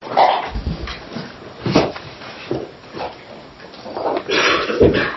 Dr. Lee has a kind take on this subject. professor by training, codes of practice that the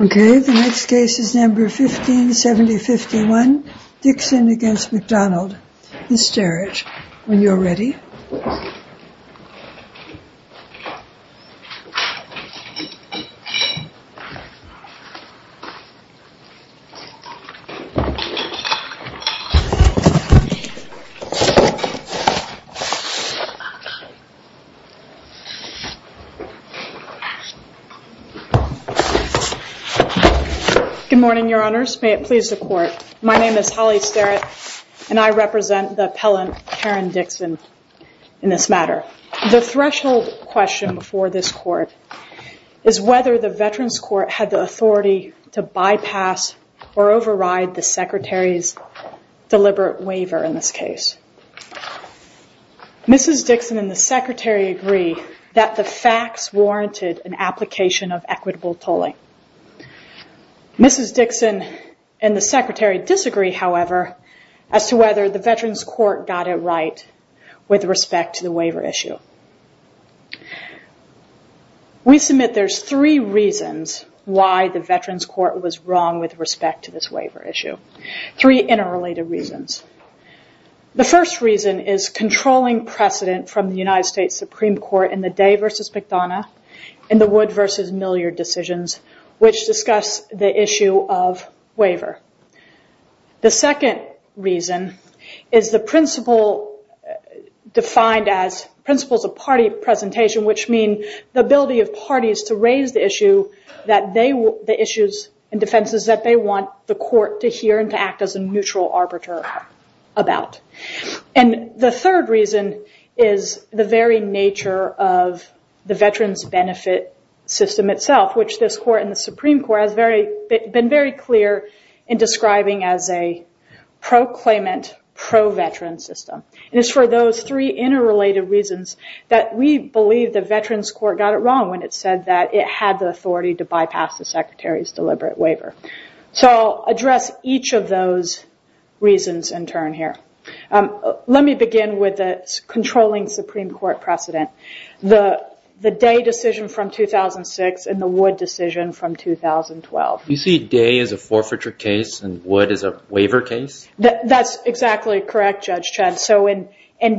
Okay the next case is number 157051 Dixon against McDonald. Ms. Jarrett, when you're ready Good morning, your honors. May it please the court. My name is Holly Starrett and I represent the appellant Karen Dixon in this matter. The threshold question for this court is whether the veterans court had the authority to bypass or override the secretary's deliberate waiver in this case. Mrs. Dixon and the secretary agree that the facts warranted an application of equitable tolling. Mrs. Dixon and the secretary disagree, however, as to whether the veterans court got it right with respect to the waiver issue. We submit there's three reasons why the veterans court was wrong with respect to this waiver issue. Three interrelated reasons. The first reason is controlling precedent from the United States Supreme Court in the Day versus McDonough and the Wood versus Milliard decisions which discuss the issue of waiver. The second reason is the principle defined as principles of party presentation which mean the ability of parties to raise the issues and defenses that they want the court to hear and to act as a neutral arbiter about. And the third reason is the very nature of the veterans benefit system itself which this court and the Supreme Court has been very clear in describing as a pro-claimant, pro-veteran system. It's for those three interrelated reasons that we believe the veterans court got it wrong when it said that it had the authority to bypass the secretary's deliberate waiver. So I'll address each of those reasons in turn here. Let me begin with the Wood decision from 2012. You see Day as a forfeiture case and Wood as a waiver case? That's exactly correct, Judge Chen. So in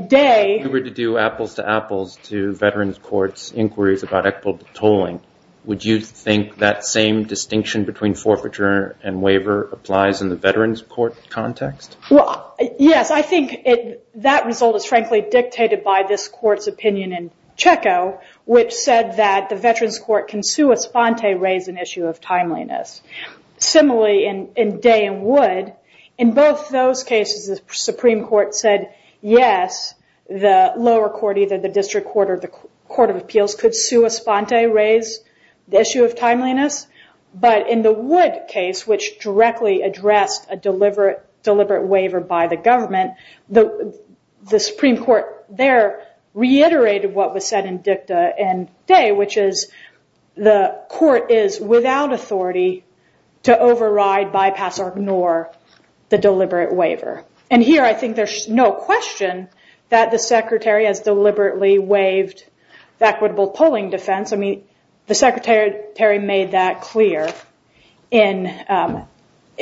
Day... If we were to do apples to apples to veterans courts inquiries about equitable tolling, would you think that same distinction between forfeiture and waiver applies in the veterans court context? Well, yes. I think that result is frankly dictated by this court's opinion in Checo which said that the veterans court can sua sponte raise an issue of timeliness. Similarly, in Day and Wood, in both those cases the Supreme Court said, yes, the lower court, either the district court or the court of appeals could sua sponte raise the issue of timeliness. But in the Wood case which directly addressed a deliberate waiver by the government, the Supreme Court there reiterated what was said in Dicta and Day which is the court is without authority to override, bypass or ignore the deliberate waiver. And here I think there's no question that the secretary has deliberately waived the equitable tolling defense. I mean, the secretary made that clear in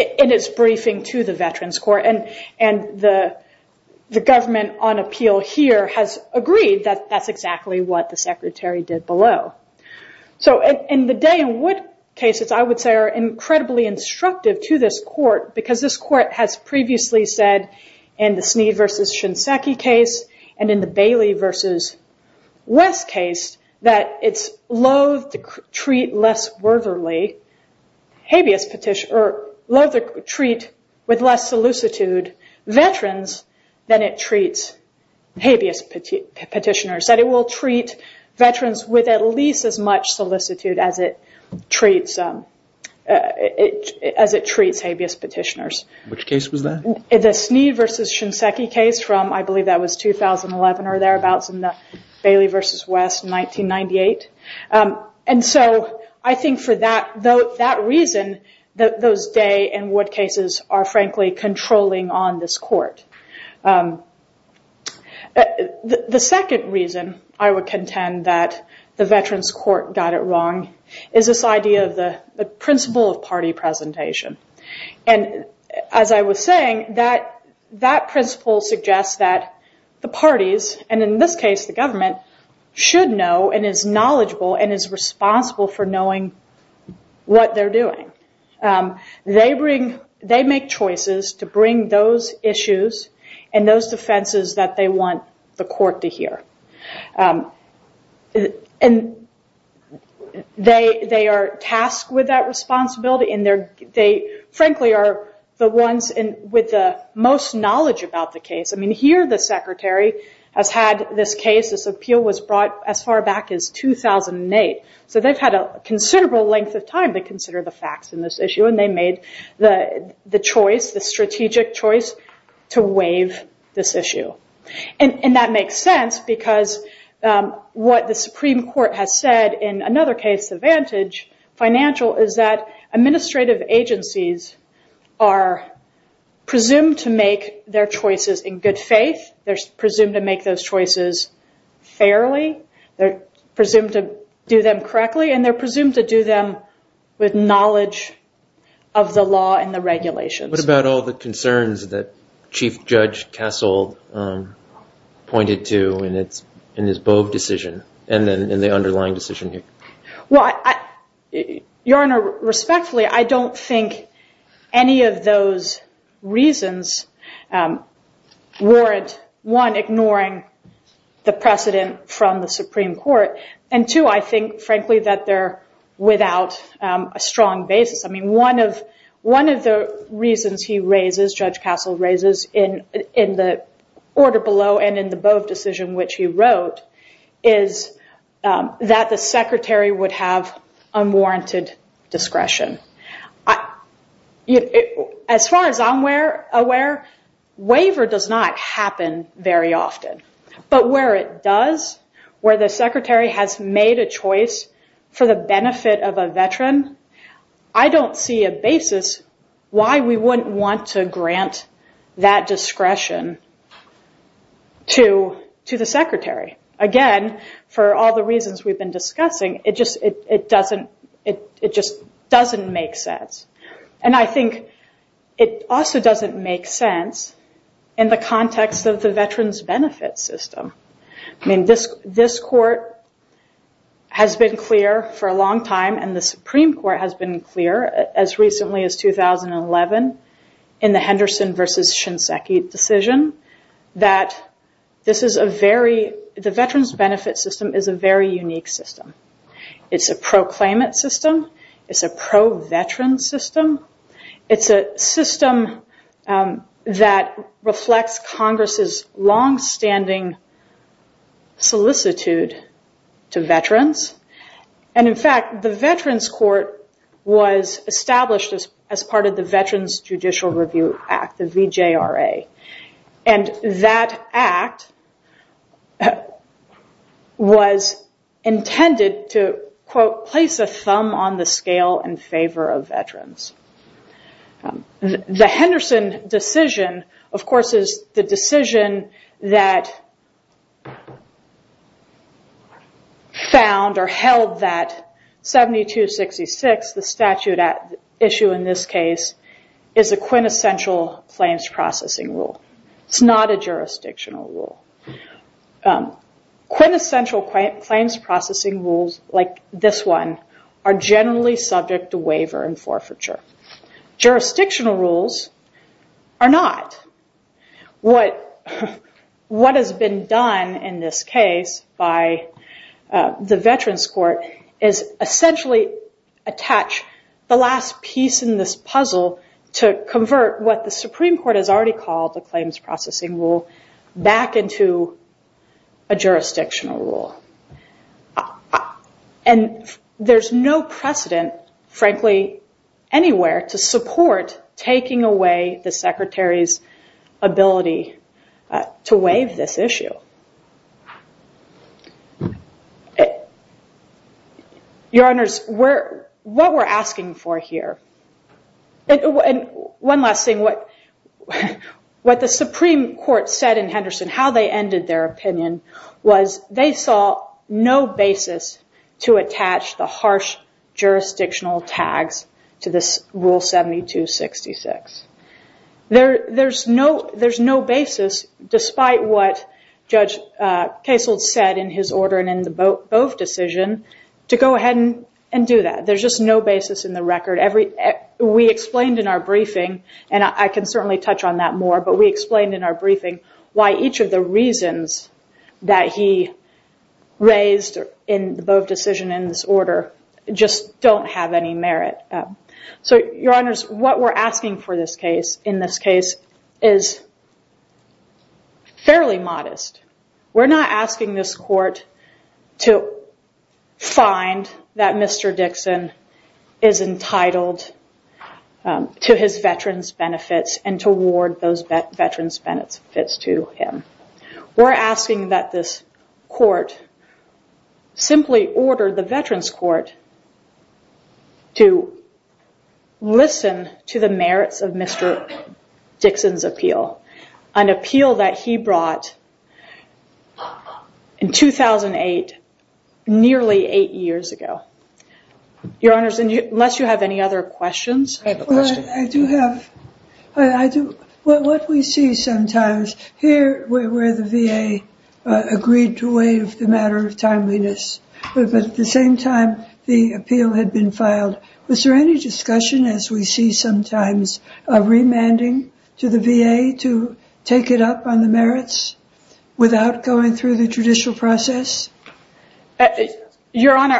his briefing to the veterans court and the government on appeal here has agreed that that's exactly what the secretary did below. So in the Day and Wood cases, I would say are incredibly instructive to this court because this court has previously said in the Snead v. Shinseki case and in the Bailey v. West case that it's loathe to treat with less solicitude veterans than it treats habeas petitioners. That it will treat veterans with at least as much solicitude as it treats habeas petitioners. Which case was that? The Snead v. Shinseki case from I believe that was 2011 or thereabouts in the Bailey v. West 1998. And so I think for that reason, those Day and Wood cases are frankly controlling on this court. The second reason I would contend that the veterans court got it wrong is this idea of the principle of representation. And as I was saying, that principle suggests that the parties, and in this case the government, should know and is knowledgeable and is responsible for knowing what they're doing. They make choices to bring those issues and those defenses that they want the court to hear. And they are tasked with that responsibility and they frankly are the ones with the most knowledge about the case. I mean here the secretary has had this case, this appeal was brought as far back as 2008. So they've had a considerable length of time to consider the facts in this issue and they made the choice, the because what the Supreme Court has said in another case, the Vantage Financial, is that administrative agencies are presumed to make their choices in good faith, they're presumed to make those choices fairly, they're presumed to do them correctly, and they're presumed to do them with knowledge of the law and the regulations. What about all the concerns that Chief Judge Kassel pointed to in his Bove decision and the underlying decision here? Your Honor, respectfully, I don't think any of those reasons warrant, one, ignoring the precedent from the Supreme Court, and two, I think frankly that they're without a strong basis. I mean one of the reasons he raises, Judge Kassel raises, in the order below and in the Bove decision which he wrote, is that the secretary would have unwarranted discretion. As far as I'm aware, waiver does not happen very often. But where it does, where the secretary has made a choice for the benefit of a veteran, I don't see a basis why we wouldn't want to grant that discretion to the secretary. Again, for all the reasons we've been discussing, it just doesn't make sense. And I think it also doesn't make sense in the context of the veterans benefit system. I mean this court has been clear for a long time and the Supreme Court has been clear as recently as 2011 in the Henderson v. Shinseki decision that this is a very, the veterans benefit system is a very unique system. It's a pro-claimant system. It's a pro-veteran system. It's a system that reflects Congress' longstanding solicitude to veterans. And in fact, the veterans court was established as part of the Veterans Judicial Review Act, the VJRA. And that act was intended to, quote, place a thumb on the scale in favor of veterans. The Henderson decision, of course, is the decision that found or held that 7266, the statute at issue in this case, is a quintessential claims processing rule. It's not a jurisdictional rule. Quintessential claims processing rules like this one are generally subject to waiver and forfeiture. Jurisdictional rules are not. What has been done in this case by the veterans court is essentially attach the last piece in this puzzle to convert what the Supreme Court has already called the claims processing rule back into a jurisdictional rule. And there's no precedent, frankly, anywhere to support taking away the Secretary's ability to waive this issue. Your Honors, what we're asking for here, and one last thing, what the Supreme Court said in Henderson, how they ended their opinion, was they saw no basis to attach the harsh jurisdictional tags to this Rule 7266. There's no basis, despite what Judge Kasold said in his order and in the Bove decision, to go ahead and do that. There's just no basis in the record. We explained in our briefing, and I can certainly touch on that more, but we explained in our briefing why each of the reasons that he raised in the Bove decision in this order just don't have any merit. So, Your Honors, what we're asking for in this case is fairly modest. We're not asking this court to find that Mr. Dixon is entitled to his veterans benefits and to award those veterans benefits to him. We're asking that this court simply order the Veterans Court to listen to the merits of Mr. Dixon's appeal, an appeal that he brought in 2008, nearly eight years ago. Your Honors, unless you have any other questions? I do have. What we see sometimes, here where the VA agreed to waive the matter of timeliness, but at the same time the appeal had been filed, was there any discussion, as we see sometimes, of remanding to the VA to take it up on the merits without going through the judicial process? Your Honor,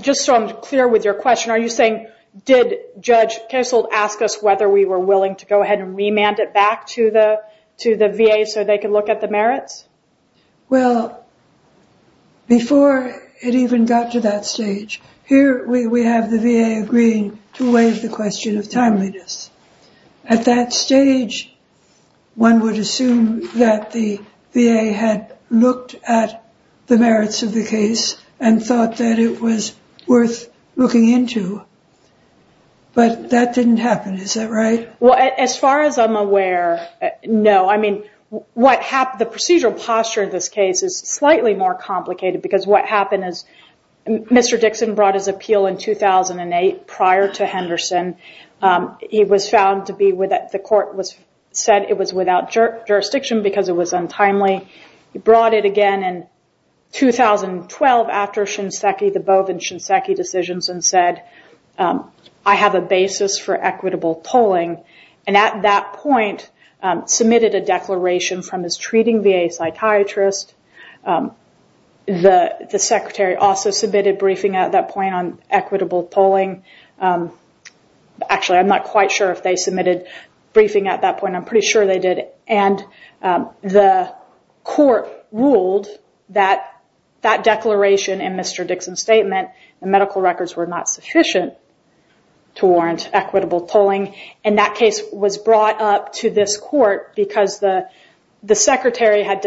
just so I'm clear with your question, are you saying, did Judge Kessel ask us whether we were willing to go ahead and remand it back to the VA so they could look at the merits? Well, before it even got to that stage, here we have the VA agreeing to waive the question of timeliness. At that stage, one would assume that the VA had looked at the merits of the case and thought that it was worth looking into, but that didn't happen, is that right? Well, as far as I'm aware, no. The procedural posture of this case is slightly more complicated, because what happened is Mr. Dixon brought his appeal in 2008 prior to Henderson. It was found to be that the court said it was without jurisdiction because it was untimely. He brought it again in 2012 after the Bove and Shinseki decisions and said, I have a basis for equitable tolling, and at that point submitted a declaration from his secretary. The secretary also submitted a briefing at that point on equitable tolling. Actually, I'm not quite sure if they submitted a briefing at that point. I'm pretty sure they did. The court ruled that that declaration in Mr. Dixon's statement, the medical records were not sufficient to warrant equitable tolling, and that case was brought up to this court because the court had failed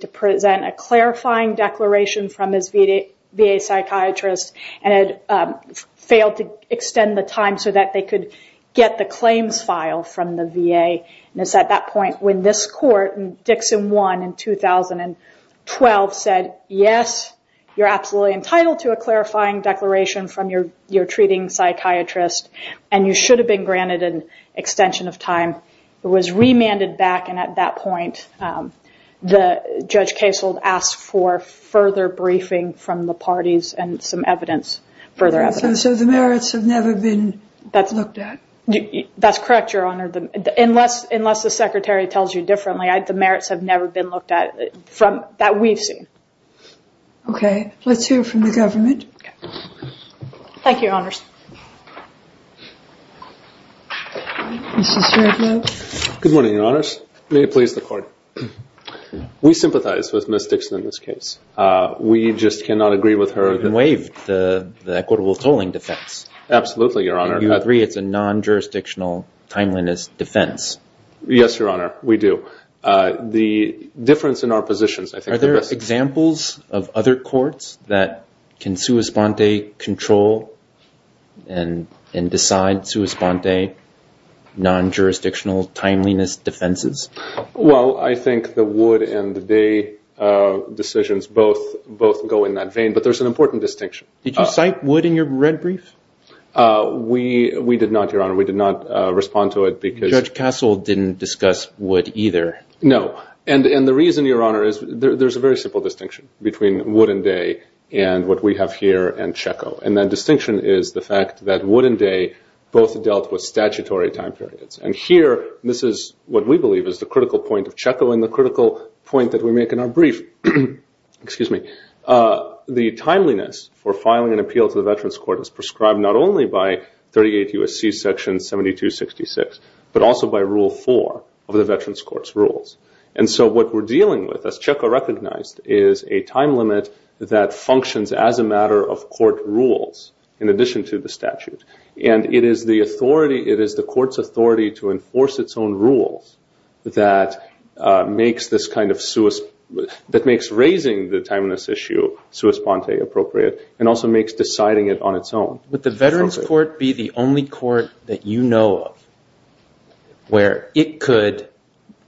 to present a clarifying declaration from his VA psychiatrist and had failed to extend the time so that they could get the claims file from the VA. At that point, when this court, Dixon won in 2012, said, yes, you're absolutely entitled to a clarifying declaration from your treating psychiatrist, and you should have been granted an extension of time. It was remanded back, and at that point, Judge Kasold asked for further briefing from the parties and some further evidence. The merits have never been looked at? That's correct, Your Honor. Unless the secretary tells you differently, the merits have never been looked at that we've seen. Okay. Let's hear from the government. Okay. Thank you, Your Honors. Mr. Srebnick. Good morning, Your Honors. May it please the court. We sympathize with Ms. Dixon in this case. We just cannot agree with her. You've been waived the equitable tolling defense. Absolutely, Your Honor. You agree it's a non-jurisdictional, timeliness defense. Yes, Your Honor, we do. The difference in our positions, I think. Are there examples of other courts that can sua sponte control and decide sua sponte non-jurisdictional timeliness defenses? Well, I think the Wood and the Day decisions both go in that vein, but there's an important distinction. Did you cite Wood in your red brief? We did not, Your Honor. We did not respond to it because- Judge Kasold didn't discuss Wood either. No. And the reason, Your Honor, is there's a very simple distinction between Wood and Day and what we have here and Checco. And that distinction is the fact that Wood and Day both dealt with statutory time periods. And here, this is what we believe is the critical point of Checco and the critical point that we make in our brief. Excuse me. The timeliness for filing an appeal to the Veterans Court is prescribed not only by 38 U.S.C. Section 7266, but also by Rule 4 of the Veterans Court's rules. And so what we're dealing with, as Checco recognized, is a time limit that functions as a matter of court rules in addition to the statute. And it is the authority, it is the court's authority to enforce its own rules that makes raising the timeliness issue sua sponte appropriate and also makes deciding it on its own. Would the Veterans Court be the only court that you know of where it could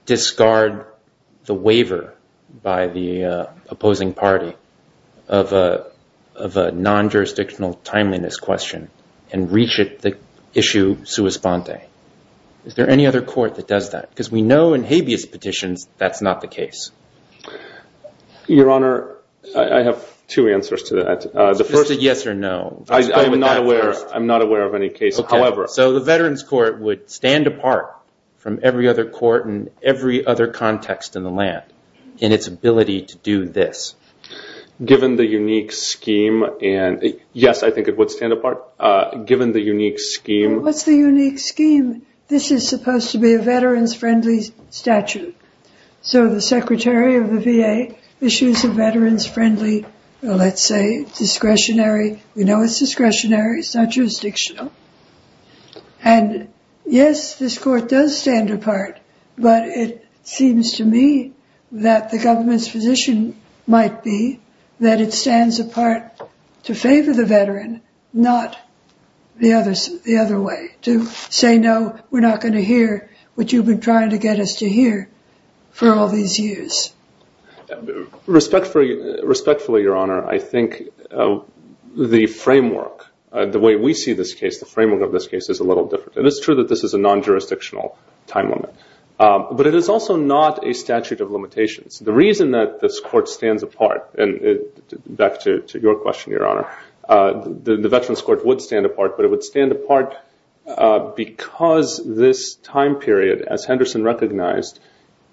discard the waiver by the opposing party of a non-jurisdictional timeliness question and reach at the issue sua sponte? Is there any other court that does that? Because we know in habeas petitions that's not the case. Your Honor, I have two answers to that. The first is yes or no. I'm not aware of any case, however. So the Veterans Court would stand apart from every other court and every other context in the land in its ability to do this. Given the unique scheme and yes, I think it would stand apart. Given the unique scheme. What's the unique scheme? This is supposed to be a veterans-friendly statute. So the Secretary of the VA issues a veterans-friendly, let's say, discretionary, we know it's discretionary, it's not jurisdictional. And yes, this court does stand apart. But it seems to me that the government's position might be that it stands apart to favor the veteran, not the other way. To say no, we're not going to hear what you've been trying to get us to hear for all these years. Respectfully, Your Honor, I think the framework, the way we see this case, the framework of this case is a little different. And it's true that this is a non-jurisdictional time limit. But it is also not a statute of limitations. The reason that this court stands apart, and back to your question, Your Honor, the Veterans Court would stand apart, but it would stand apart because this time period, as Henderson recognized,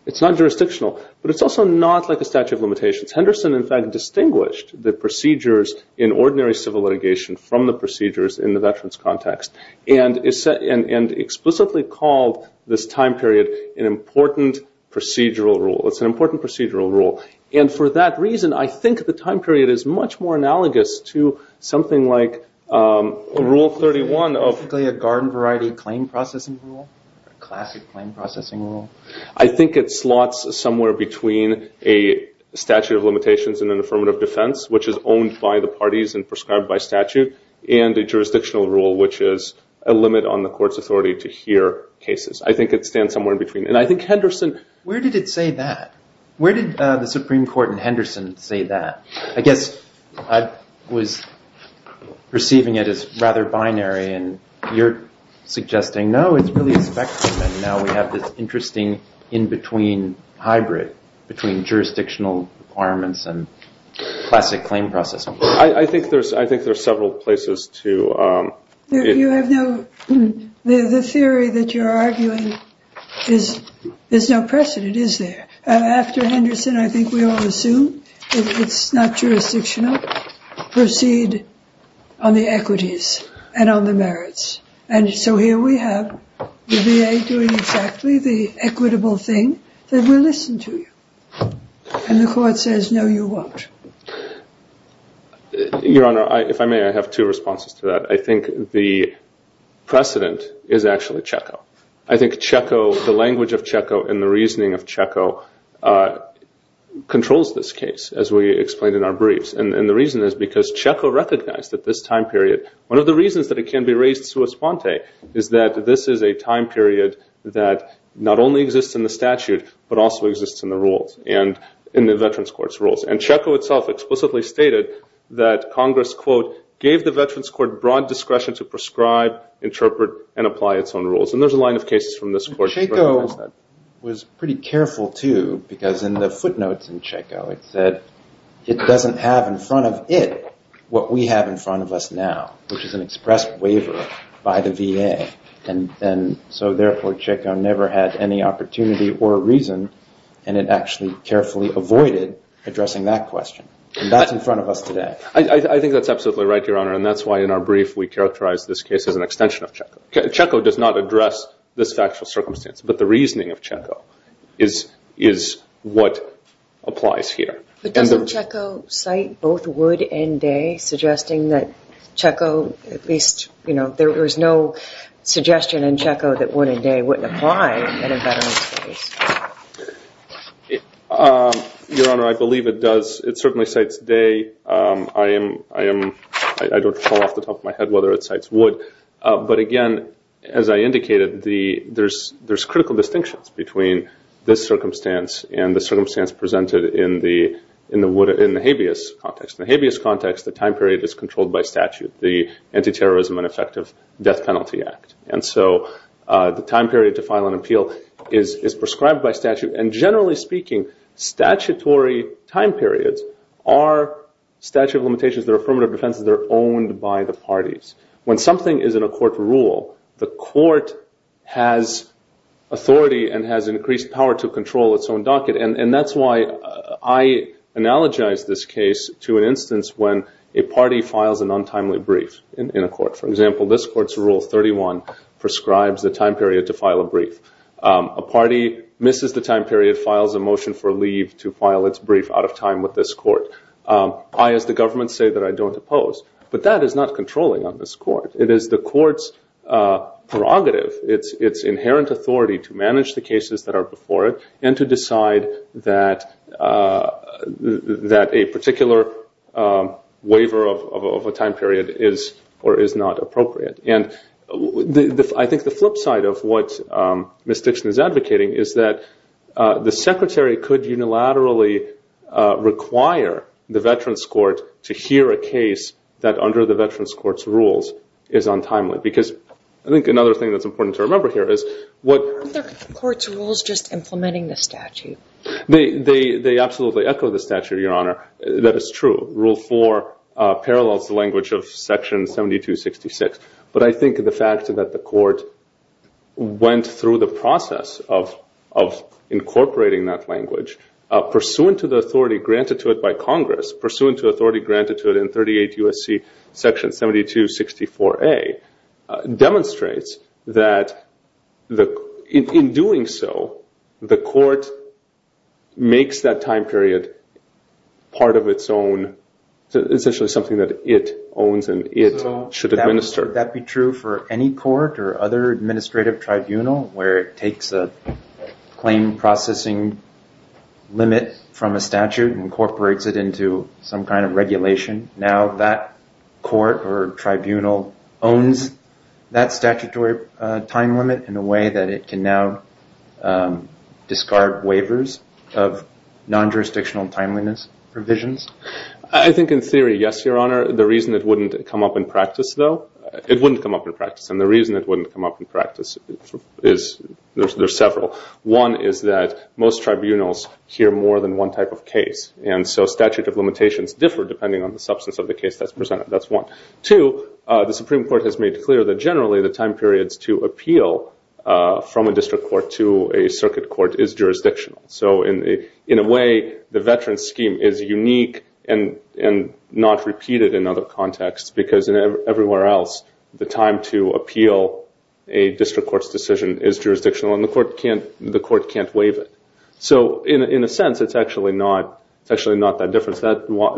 it's not jurisdictional. But it's also not like a statute of limitations. Henderson, in fact, distinguished the procedures in ordinary civil litigation from the procedures in the veterans' context. And explicitly called this time period an important procedural rule. It's an important procedural rule. And for that reason, I think the time period is much more analogous to something like Rule 31. Is it basically a garden-variety claim processing rule, a classic claim processing rule? I think it slots somewhere between a statute of limitations and an affirmative defense, which is owned by the parties and prescribed by statute, and a jurisdictional rule, which is a limit on the court's authority to hear cases. I think it stands somewhere in between. And I think Henderson- Where did it say that? Where did the Supreme Court in Henderson say that? I guess I was perceiving it as rather binary. And you're suggesting, no, it's really a spectrum. And now we have this interesting in-between hybrid between jurisdictional requirements and classic claim processing. I think there's several places to- You have no- The theory that you're arguing is there's no precedent, is there? After Henderson, I think we all assume it's not jurisdictional. Proceed on the equities and on the merits. And so here we have the VA doing exactly the equitable thing, that we'll listen to you. And the court says, no, you won't. Your Honor, if I may, I have two responses to that. I think the precedent is actually Checo. I think Checo, the language of Checo and the reasoning of Checo, controls this case, as we explained in our briefs. And the reason is because Checo recognized that this time period, one of the reasons that it can be raised sua sponte, is that this is a time period that not only exists in the statute, but also exists in the rules and in the Veterans Court's rules. And Checo itself explicitly stated that Congress, quote, gave the Veterans Court broad discretion to prescribe, interpret, and apply its own rules. And there's a line of cases from this court- Checo was pretty careful too, because in the footnotes in Checo, it said, it doesn't have in front of it what we have in front of us now. Which is an expressed waiver by the VA. And so therefore, Checo never had any opportunity or a reason. And it actually carefully avoided addressing that question. And that's in front of us today. I think that's absolutely right, Your Honor. And that's why in our brief, we characterize this case as an extension of Checo. Checo does not address this factual circumstance. But the reasoning of Checo is what applies here. But doesn't Checo cite both Wood and Day, suggesting that Checo, at least, you know, there was no suggestion in Checo that Wood and Day wouldn't apply in a Veterans case? Your Honor, I believe it does. It certainly cites Day. I don't know off the top of my head whether it cites Wood. But again, as I indicated, there's critical distinctions between this circumstance and the circumstance presented in the habeas context. In the habeas context, the time period is controlled by statute. The Anti-Terrorism and Effective Death Penalty Act. And so the time period to file an appeal is prescribed by statute. And generally speaking, statutory time periods are statute of limitations. They're affirmative defenses. They're owned by the parties. When something is in a court rule, the court has authority and has increased power to control its own docket. And that's why I analogize this case to an instance when a party files an untimely brief in a court. For example, this court's Rule 31 prescribes the time period to file a brief. A party misses the time period, files a motion for leave to file its brief out of time with this court. I, as the government, say that I don't oppose. But that is not controlling on this court. It is the court's prerogative, its inherent authority to manage the cases that are before it and to decide that a particular waiver of a time period is or is not appropriate. And I think the flip side of what Ms. Dixon is advocating is that the Secretary could unilaterally require the Veterans Court to hear a case that under the Veterans Court's rules is untimely. Because I think another thing that's important to remember here is what the court's rules just implementing the statute. They absolutely echo the statute, Your Honor. That is true. Rule 4 parallels the language of Section 7266. But I think the fact that the court went through the process of incorporating that language, pursuant to the authority granted to it by Congress, pursuant to authority granted to it in 38 U.S.C. Section 7264A, demonstrates that in doing so, the court makes that time period part of its own, essentially something that it owns and it should administer. So would that be true for any court or other administrative tribunal where it processing limit from a statute incorporates it into some kind of regulation? Now that court or tribunal owns that statutory time limit in a way that it can now discard waivers of non-jurisdictional timeliness provisions? I think in theory, yes, Your Honor. The reason it wouldn't come up in practice, though, it wouldn't come up in practice. And the reason it wouldn't come up in practice is, there's several. One is that most tribunals hear more than one type of case. And so statute of limitations differ depending on the substance of the case that's presented. That's one. Two, the Supreme Court has made clear that generally the time periods to appeal from a district court to a circuit court is jurisdictional. So in a way, the veteran scheme is unique and not repeated in other contexts. Because everywhere else, the time to appeal a district court's decision is jurisdictional. And the court can't waive it. So in a sense, it's actually not that different.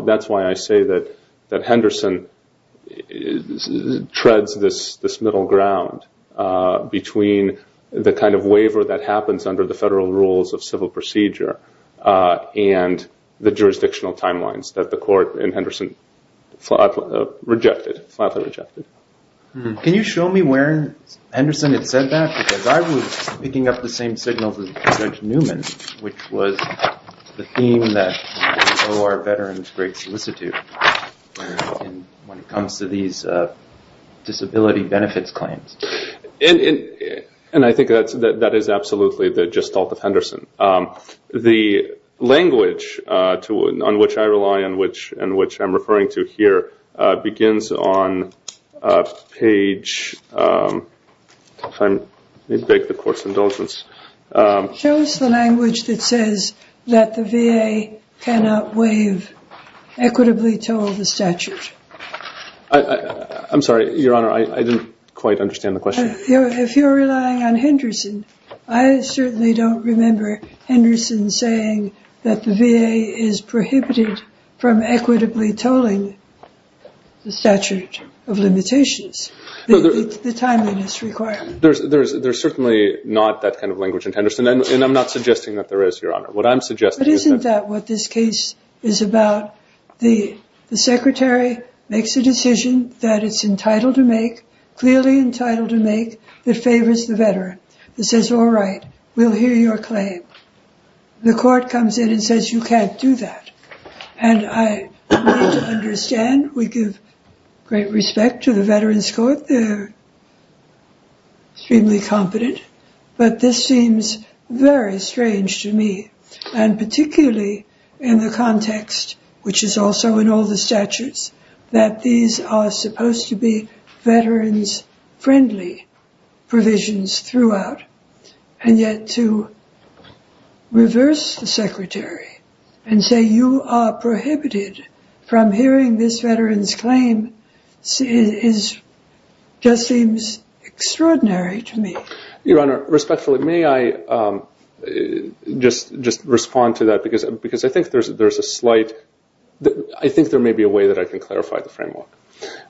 That's why I say that Henderson treads this middle ground between the kind of waiver that happens under the federal rules of civil procedure and the jurisdictional timelines that the court in Henderson flatly rejected. Can you show me where Henderson had said that? Because I was picking up the same signals as Judge Newman, which was the theme that we owe our veterans great solicitude when it comes to these disability benefits claims. And I think that is absolutely the gestalt of Henderson. The language on which I rely and which I'm referring to here begins on page, if I may beg the court's indulgence. Show us the language that says that the VA cannot waive equitably told the statute. I'm sorry, Your Honor, I didn't quite understand the question. If you're relying on Henderson, I certainly don't remember Henderson saying that the VA is prohibited from equitably tolling the statute of limitations, the timeliness requirement. There's certainly not that kind of language in Henderson. And I'm not suggesting that there is, Your Honor. What I'm suggesting is that- But isn't that what this case is about? The secretary makes a decision that it's entitled to make, clearly entitled to make, that favors the veteran. It says, all right, we'll hear your claim. The court comes in and says, you can't do that. And I need to understand, we give great respect to the Veterans Court. They're extremely competent. But this seems very strange to me. And particularly in the context, which is also in all the statutes, that these are supposed to be veterans-friendly provisions throughout. And yet to reverse the secretary and say you are prohibited from hearing this veteran's claim just seems extraordinary to me. Your Honor, respectfully, may I just respond to that? Because I think there's a slight- I think there may be a way that I can clarify the framework.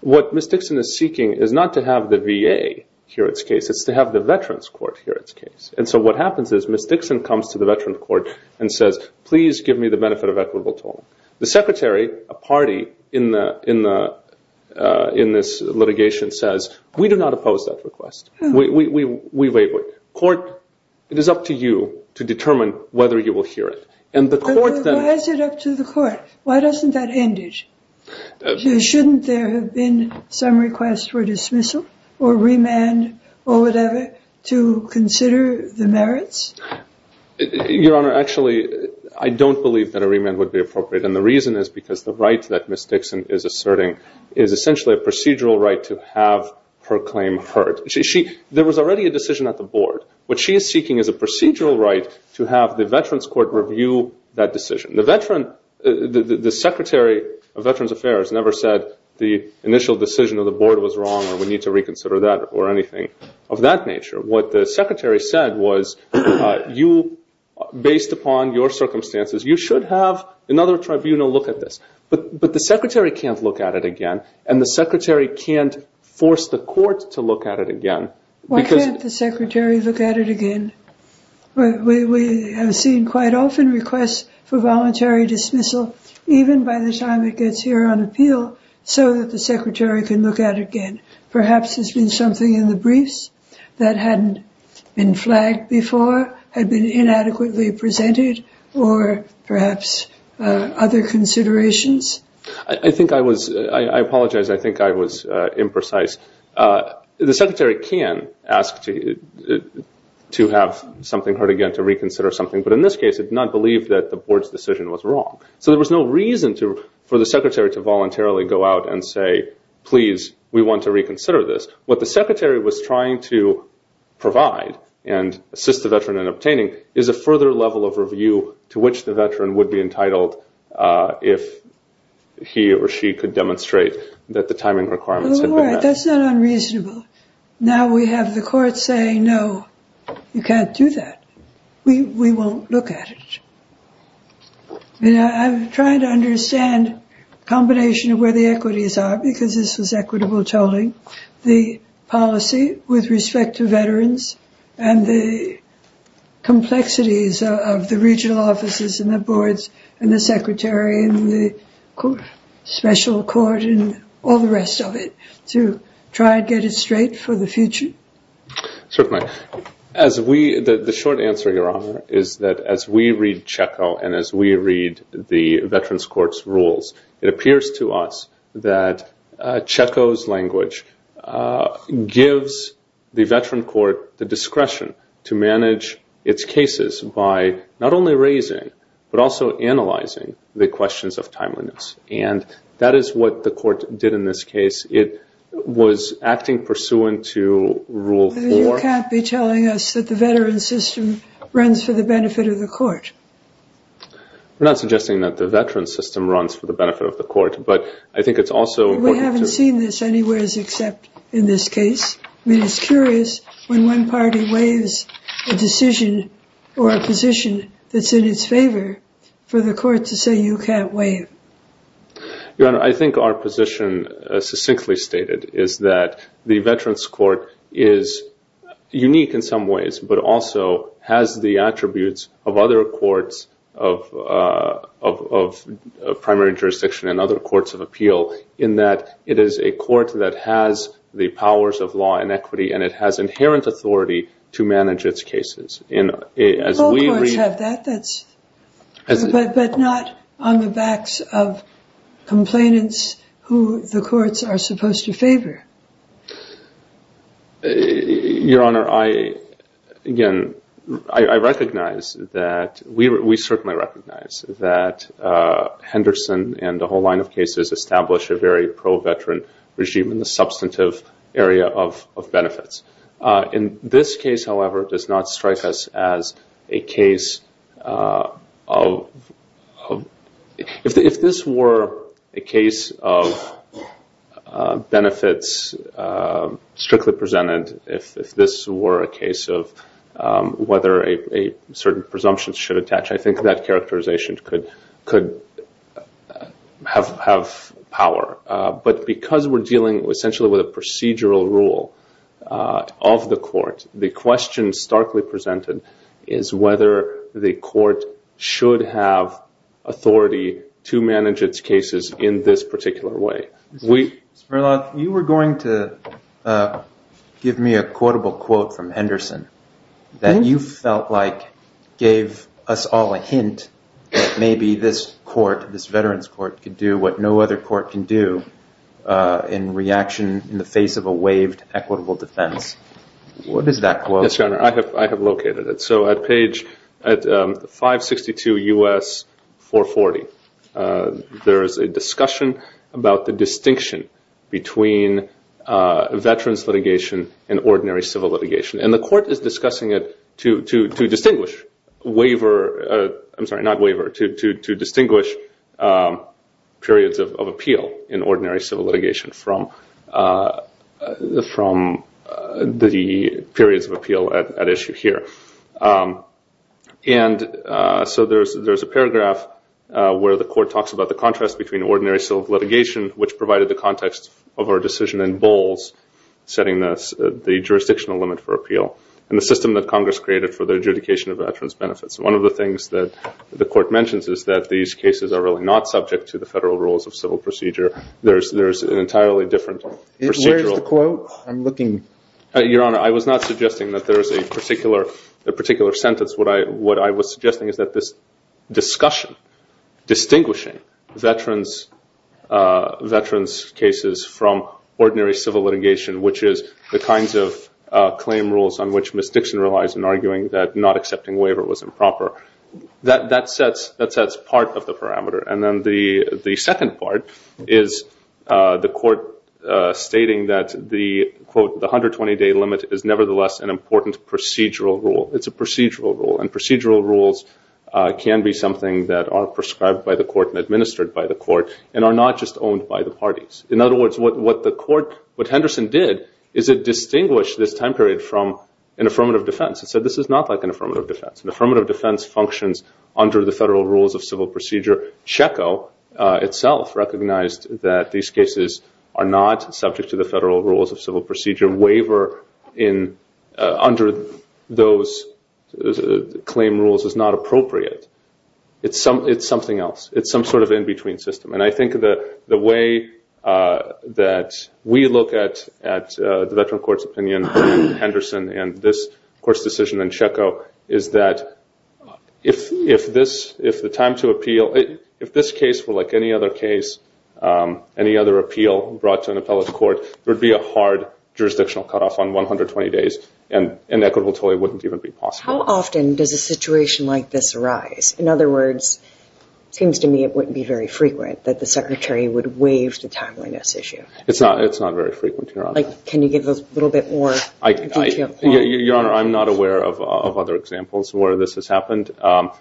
What Ms. Dixon is seeking is not to have the VA hear its case. It's to have the Veterans Court hear its case. And so what happens is Ms. Dixon comes to the Veterans Court and says, please give me the benefit of equitable toll. The secretary, a party in this litigation says, we do not oppose that request. Court, it is up to you to determine whether you will hear it. And the court then- Why is it up to the court? Why doesn't that end it? Shouldn't there have been some request for dismissal or remand or whatever to consider the merits? Your Honor, actually, I don't believe that a remand would be appropriate. And the reason is because the right that Ms. Dixon is asserting is essentially a procedural right to have her claim heard. There was already a decision at the board. What she is seeking is a procedural right to have the Veterans Court review that decision. The Secretary of Veterans Affairs never said the initial decision of the board was wrong or we need to reconsider that or anything of that nature. What the secretary said was, based upon your circumstances, you should have another tribunal look at this. But the secretary can't look at it again. And the secretary can't force the court to look at it again. Why can't the secretary look at it again? We have seen quite often requests for voluntary dismissal, even by the time it gets here on appeal, so that the secretary can look at it again. Perhaps there's been something in the briefs that hadn't been flagged before, had been inadequately presented, or perhaps other considerations. I think I was- I apologize. I think I was imprecise. The secretary can ask to have something heard again, to reconsider something. But in this case, it's not believed that the board's decision was wrong. So there was no reason for the secretary to voluntarily go out and say, please, we want to reconsider this. What the secretary was trying to provide and assist the veteran in obtaining is a further level of review to which the veteran would be entitled That's not unreasonable. Now we have the court saying, no, you can't do that. We won't look at it. I'm trying to understand the combination of where the equities are, because this was equitable tolling. The policy with respect to veterans and the complexities of the regional offices and the boards and the secretary and the special court and all the rest of it. To try and get it straight for the future? Certainly. As we- the short answer, Your Honor, is that as we read CHECO and as we read the Veterans Court's rules, it appears to us that CHECO's language gives the veteran court the discretion to manage its cases by not only raising, but also analyzing the questions of timeliness. And that is what the court did in this case. It was acting pursuant to Rule 4. You can't be telling us that the veteran system runs for the benefit of the court. We're not suggesting that the veteran system runs for the benefit of the court, but I think it's also important to- We haven't seen this anywhere except in this case. I mean, it's curious when one party waives a decision or a position that's in its favor for the court to say you can't waive. Your Honor, I think our position succinctly stated is that the Veterans Court is unique in some ways, but also has the attributes of other courts of primary jurisdiction and other courts of appeal in that it is a court that has the powers of law and equity, and it has inherent authority to manage its cases. All courts have that, but not on the backs of complainants who the courts are supposed to favor. Your Honor, again, I recognize that, we certainly recognize that Henderson and a whole line of cases establish a very pro-veteran regime in the substantive area of benefits. In this case, however, it does not strike us as a case of- If this were a case of benefits strictly presented, if this were a case of whether a certain presumption should attach, I think that characterization could have power. But because we're dealing essentially with a procedural rule of the court, the question starkly presented is whether the court should have authority to manage its cases in this particular way. You were going to give me a quotable quote from Henderson that you felt like gave us all a hint that maybe this court, this Veterans Court, could do what no other court can do in reaction in the face of a waived equitable defense. What is that quote? Yes, Your Honor, I have located it. So at page 562 U.S. 440, there is a discussion about the distinction between veterans litigation and ordinary civil litigation. And the court is discussing it to distinguish waiver- periods of appeal in ordinary civil litigation from the periods of appeal at issue here. And so there's a paragraph where the court talks about the contrast between ordinary civil litigation, which provided the context of our decision in Bowles, setting the jurisdictional limit for appeal, and the system that Congress created for the adjudication of veterans benefits. One of the things that the court mentions is that these cases are really not subject to the federal rules of civil procedure. There's an entirely different procedural- Where's the quote? I'm looking- Your Honor, I was not suggesting that there is a particular sentence. What I was suggesting is that this discussion, distinguishing veterans cases from ordinary civil litigation, which is the kinds of claim rules on which Ms. Dixon relies in arguing that not accepting waiver was improper, that sets part of the parameter. And then the second part is the court stating that the, quote, the 120-day limit is nevertheless an important procedural rule. It's a procedural rule. And procedural rules can be something that are prescribed by the court and administered by the court and are not just owned by the parties. In other words, what Henderson did is it distinguished this time period from an affirmative defense. It said this is not like an affirmative defense. An affirmative defense functions under the federal rules of civil procedure, Cheko itself recognized that these cases are not subject to the federal rules of civil procedure. Waiver under those claim rules is not appropriate. It's something else. It's some sort of in-between system. And I think the way that we look at the veteran court's opinion, Henderson, and this court's decision in Cheko, is that if the time to appeal, if this case were like any other case, any other appeal brought to an appellate court, there would be a hard jurisdictional cutoff on 120 days. And inequitable totally wouldn't even be possible. How often does a situation like this arise? In other words, it seems to me it wouldn't be very frequent that the Secretary would It's not very frequent, Your Honor. Can you give us a little bit more detail? Your Honor, I'm not aware of other examples where this has happened. Well,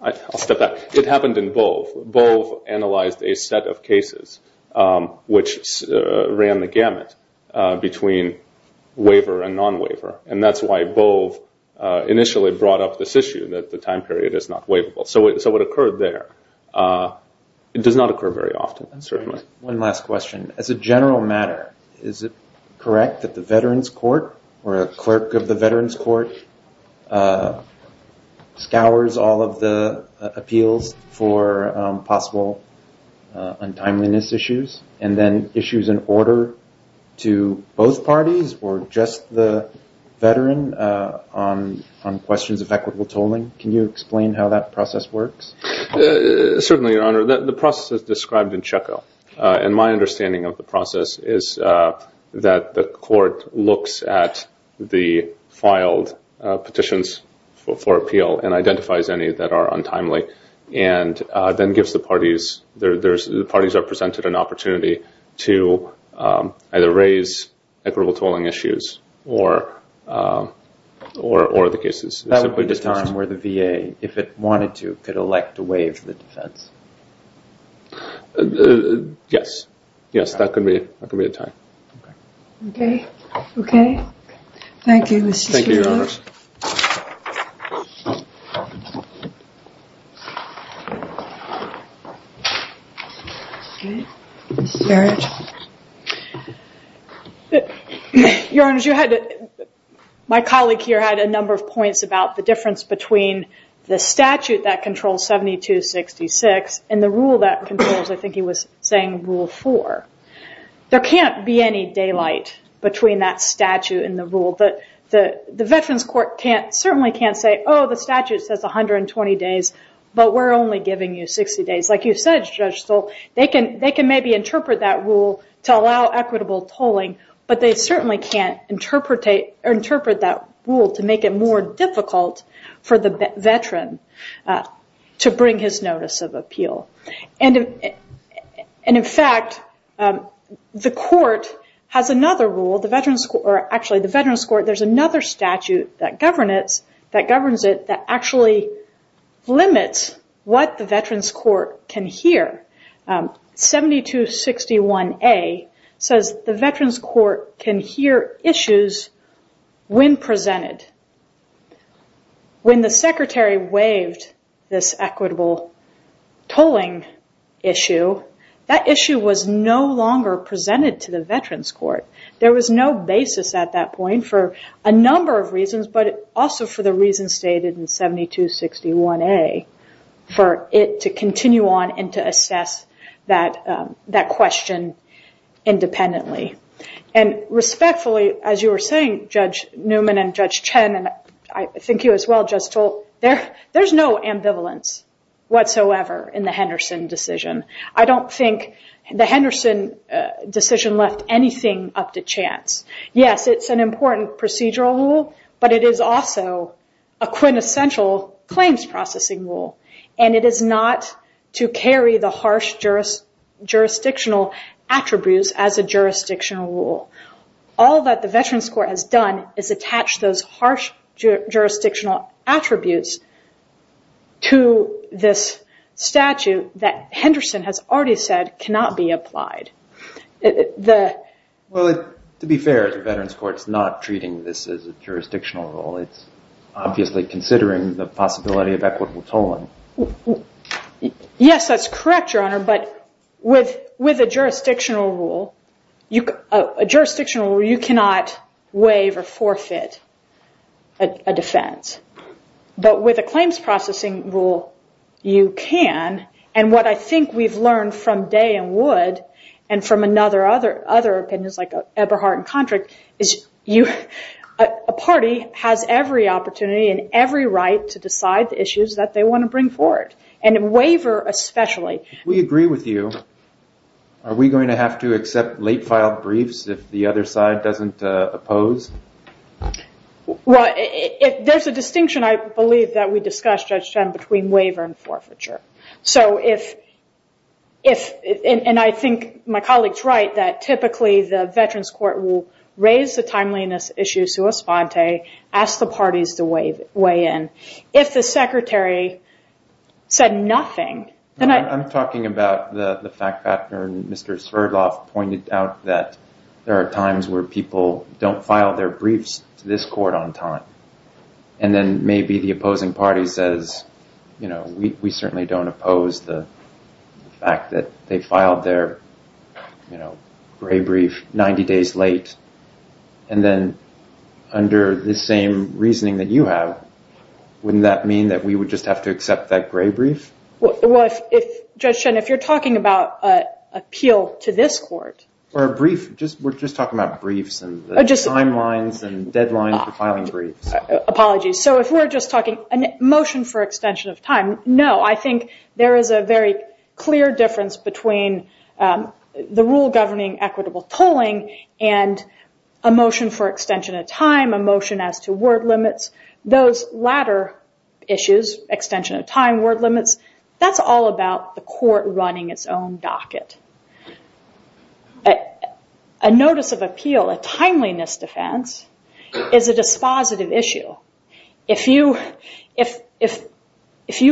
I'll step back. It happened in Bove. Bove analyzed a set of cases which ran the gamut between waiver and non-waiver. And that's why Bove initially brought up this issue that the time period is not waivable. So it occurred there. It does not occur very often, certainly. One last question. As a general matter, is it correct that the Veterans Court or a clerk of the Veterans Court scours all of the appeals for possible untimeliness issues and then issues an order to both parties or just the veteran on questions of equitable tolling? Can you explain how that process works? Certainly, Your Honor. The process is described in Cheko. And my understanding of the process is that the court looks at the filed petitions for appeal and identifies any that are untimely and then gives the parties, the parties are presented an opportunity to either raise equitable tolling issues or the cases simply dismissed. That would be the time where the VA, if it wanted to, could elect to waive the defense. Yes. Yes, that could be a time. Okay. Okay. Thank you. Thank you, Your Honor. Your Honor, my colleague here had a number of points about the difference between the statute that controls 7266 and the rule that controls, I think he was saying, Rule 4. There can't be any daylight between that statute and the rule. The Veterans Court certainly can't say, oh, the statute says 120 days, but we're only giving you 60 days. Like you said, Judge Stoll, they can maybe interpret that rule to allow equitable tolling, but they certainly can't interpret that rule to make it more difficult for the veteran to bring his notice of appeal. And in fact, the court has another rule. Actually, the Veterans Court, there's another statute that governs it that actually limits what the Veterans Court can hear. 7261A says the Veterans Court can hear issues when presented. When the secretary waived this equitable tolling issue, that issue was no longer presented to the Veterans Court. There was no basis at that point for a number of reasons, but also for the reasons stated in 7261A for it to continue on and to assess that question independently. And respectfully, as you were saying, Judge Newman and Judge Chen, and I think you as well, Judge Stoll, there's no ambivalence whatsoever in the Henderson decision. I don't think the Henderson decision left anything up to chance. Yes, it's an important procedural rule, but it is also a quintessential claims processing rule, and it is not to carry the harsh jurisdictional attributes as a jurisdictional rule. All that the Veterans Court has done is attach those harsh jurisdictional attributes to this statute that Henderson has already said cannot be applied. Well, to be fair, the Veterans Court's not treating this as a jurisdictional rule. It's obviously considering the possibility of equitable tolling. Yes, that's correct, Your Honor. But with a jurisdictional rule, you cannot waive or forfeit a defense. But with a claims processing rule, you can. And what I think we've learned from Day and Wood, and from other opinions like Eberhardt and Kontrick, is a party has every opportunity and every right to decide the issues that they want to bring forward. And in waiver, especially. We agree with you. Are we going to have to accept late-filed briefs if the other side doesn't oppose? Well, there's a distinction, I believe, that we discussed, Judge Chen, between waiver and forfeiture. So if, and I think my colleague's right, that typically the Veterans Court will raise the timeliness issues to a sponte, ask the parties to weigh in. If the Secretary said nothing, then I... I'm talking about the fact that Mr. Sverdlov pointed out that there are times where people don't file their briefs to this court on time. And then maybe the opposing party says, you know, we certainly don't oppose the fact that they filed their, you know, gray brief 90 days late. And then under the same reasoning that you have, wouldn't that mean that we would just have to accept that gray brief? Well, if, Judge Chen, if you're talking about an appeal to this court... Or a brief, we're just talking about briefs and the timelines and deadlines for filing briefs. Apologies. So if we're just talking a motion for extension of time, no, I think there is a very clear difference between the rule governing equitable tolling and a motion for extension of time, a motion as to word limits. Those latter issues, extension of time, word limits, that's all about the court running its own docket. But a notice of appeal, a timeliness defense, is a dispositive issue. If you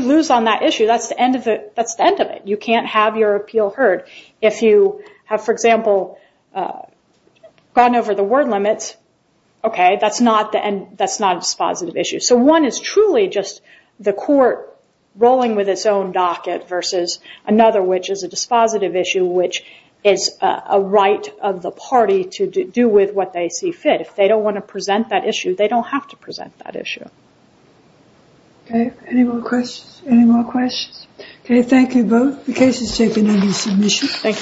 lose on that issue, that's the end of it. You can't have your appeal heard. If you have, for example, gone over the word limits, okay, that's not a dispositive issue. So one is truly just the court rolling with its own docket versus another, which is a dispositive issue, which is a right of the party to do with what they see fit. If they don't want to present that issue, they don't have to present that issue. Okay, any more questions? Any more questions? Okay, thank you both. The case is taken under submission. Thank you.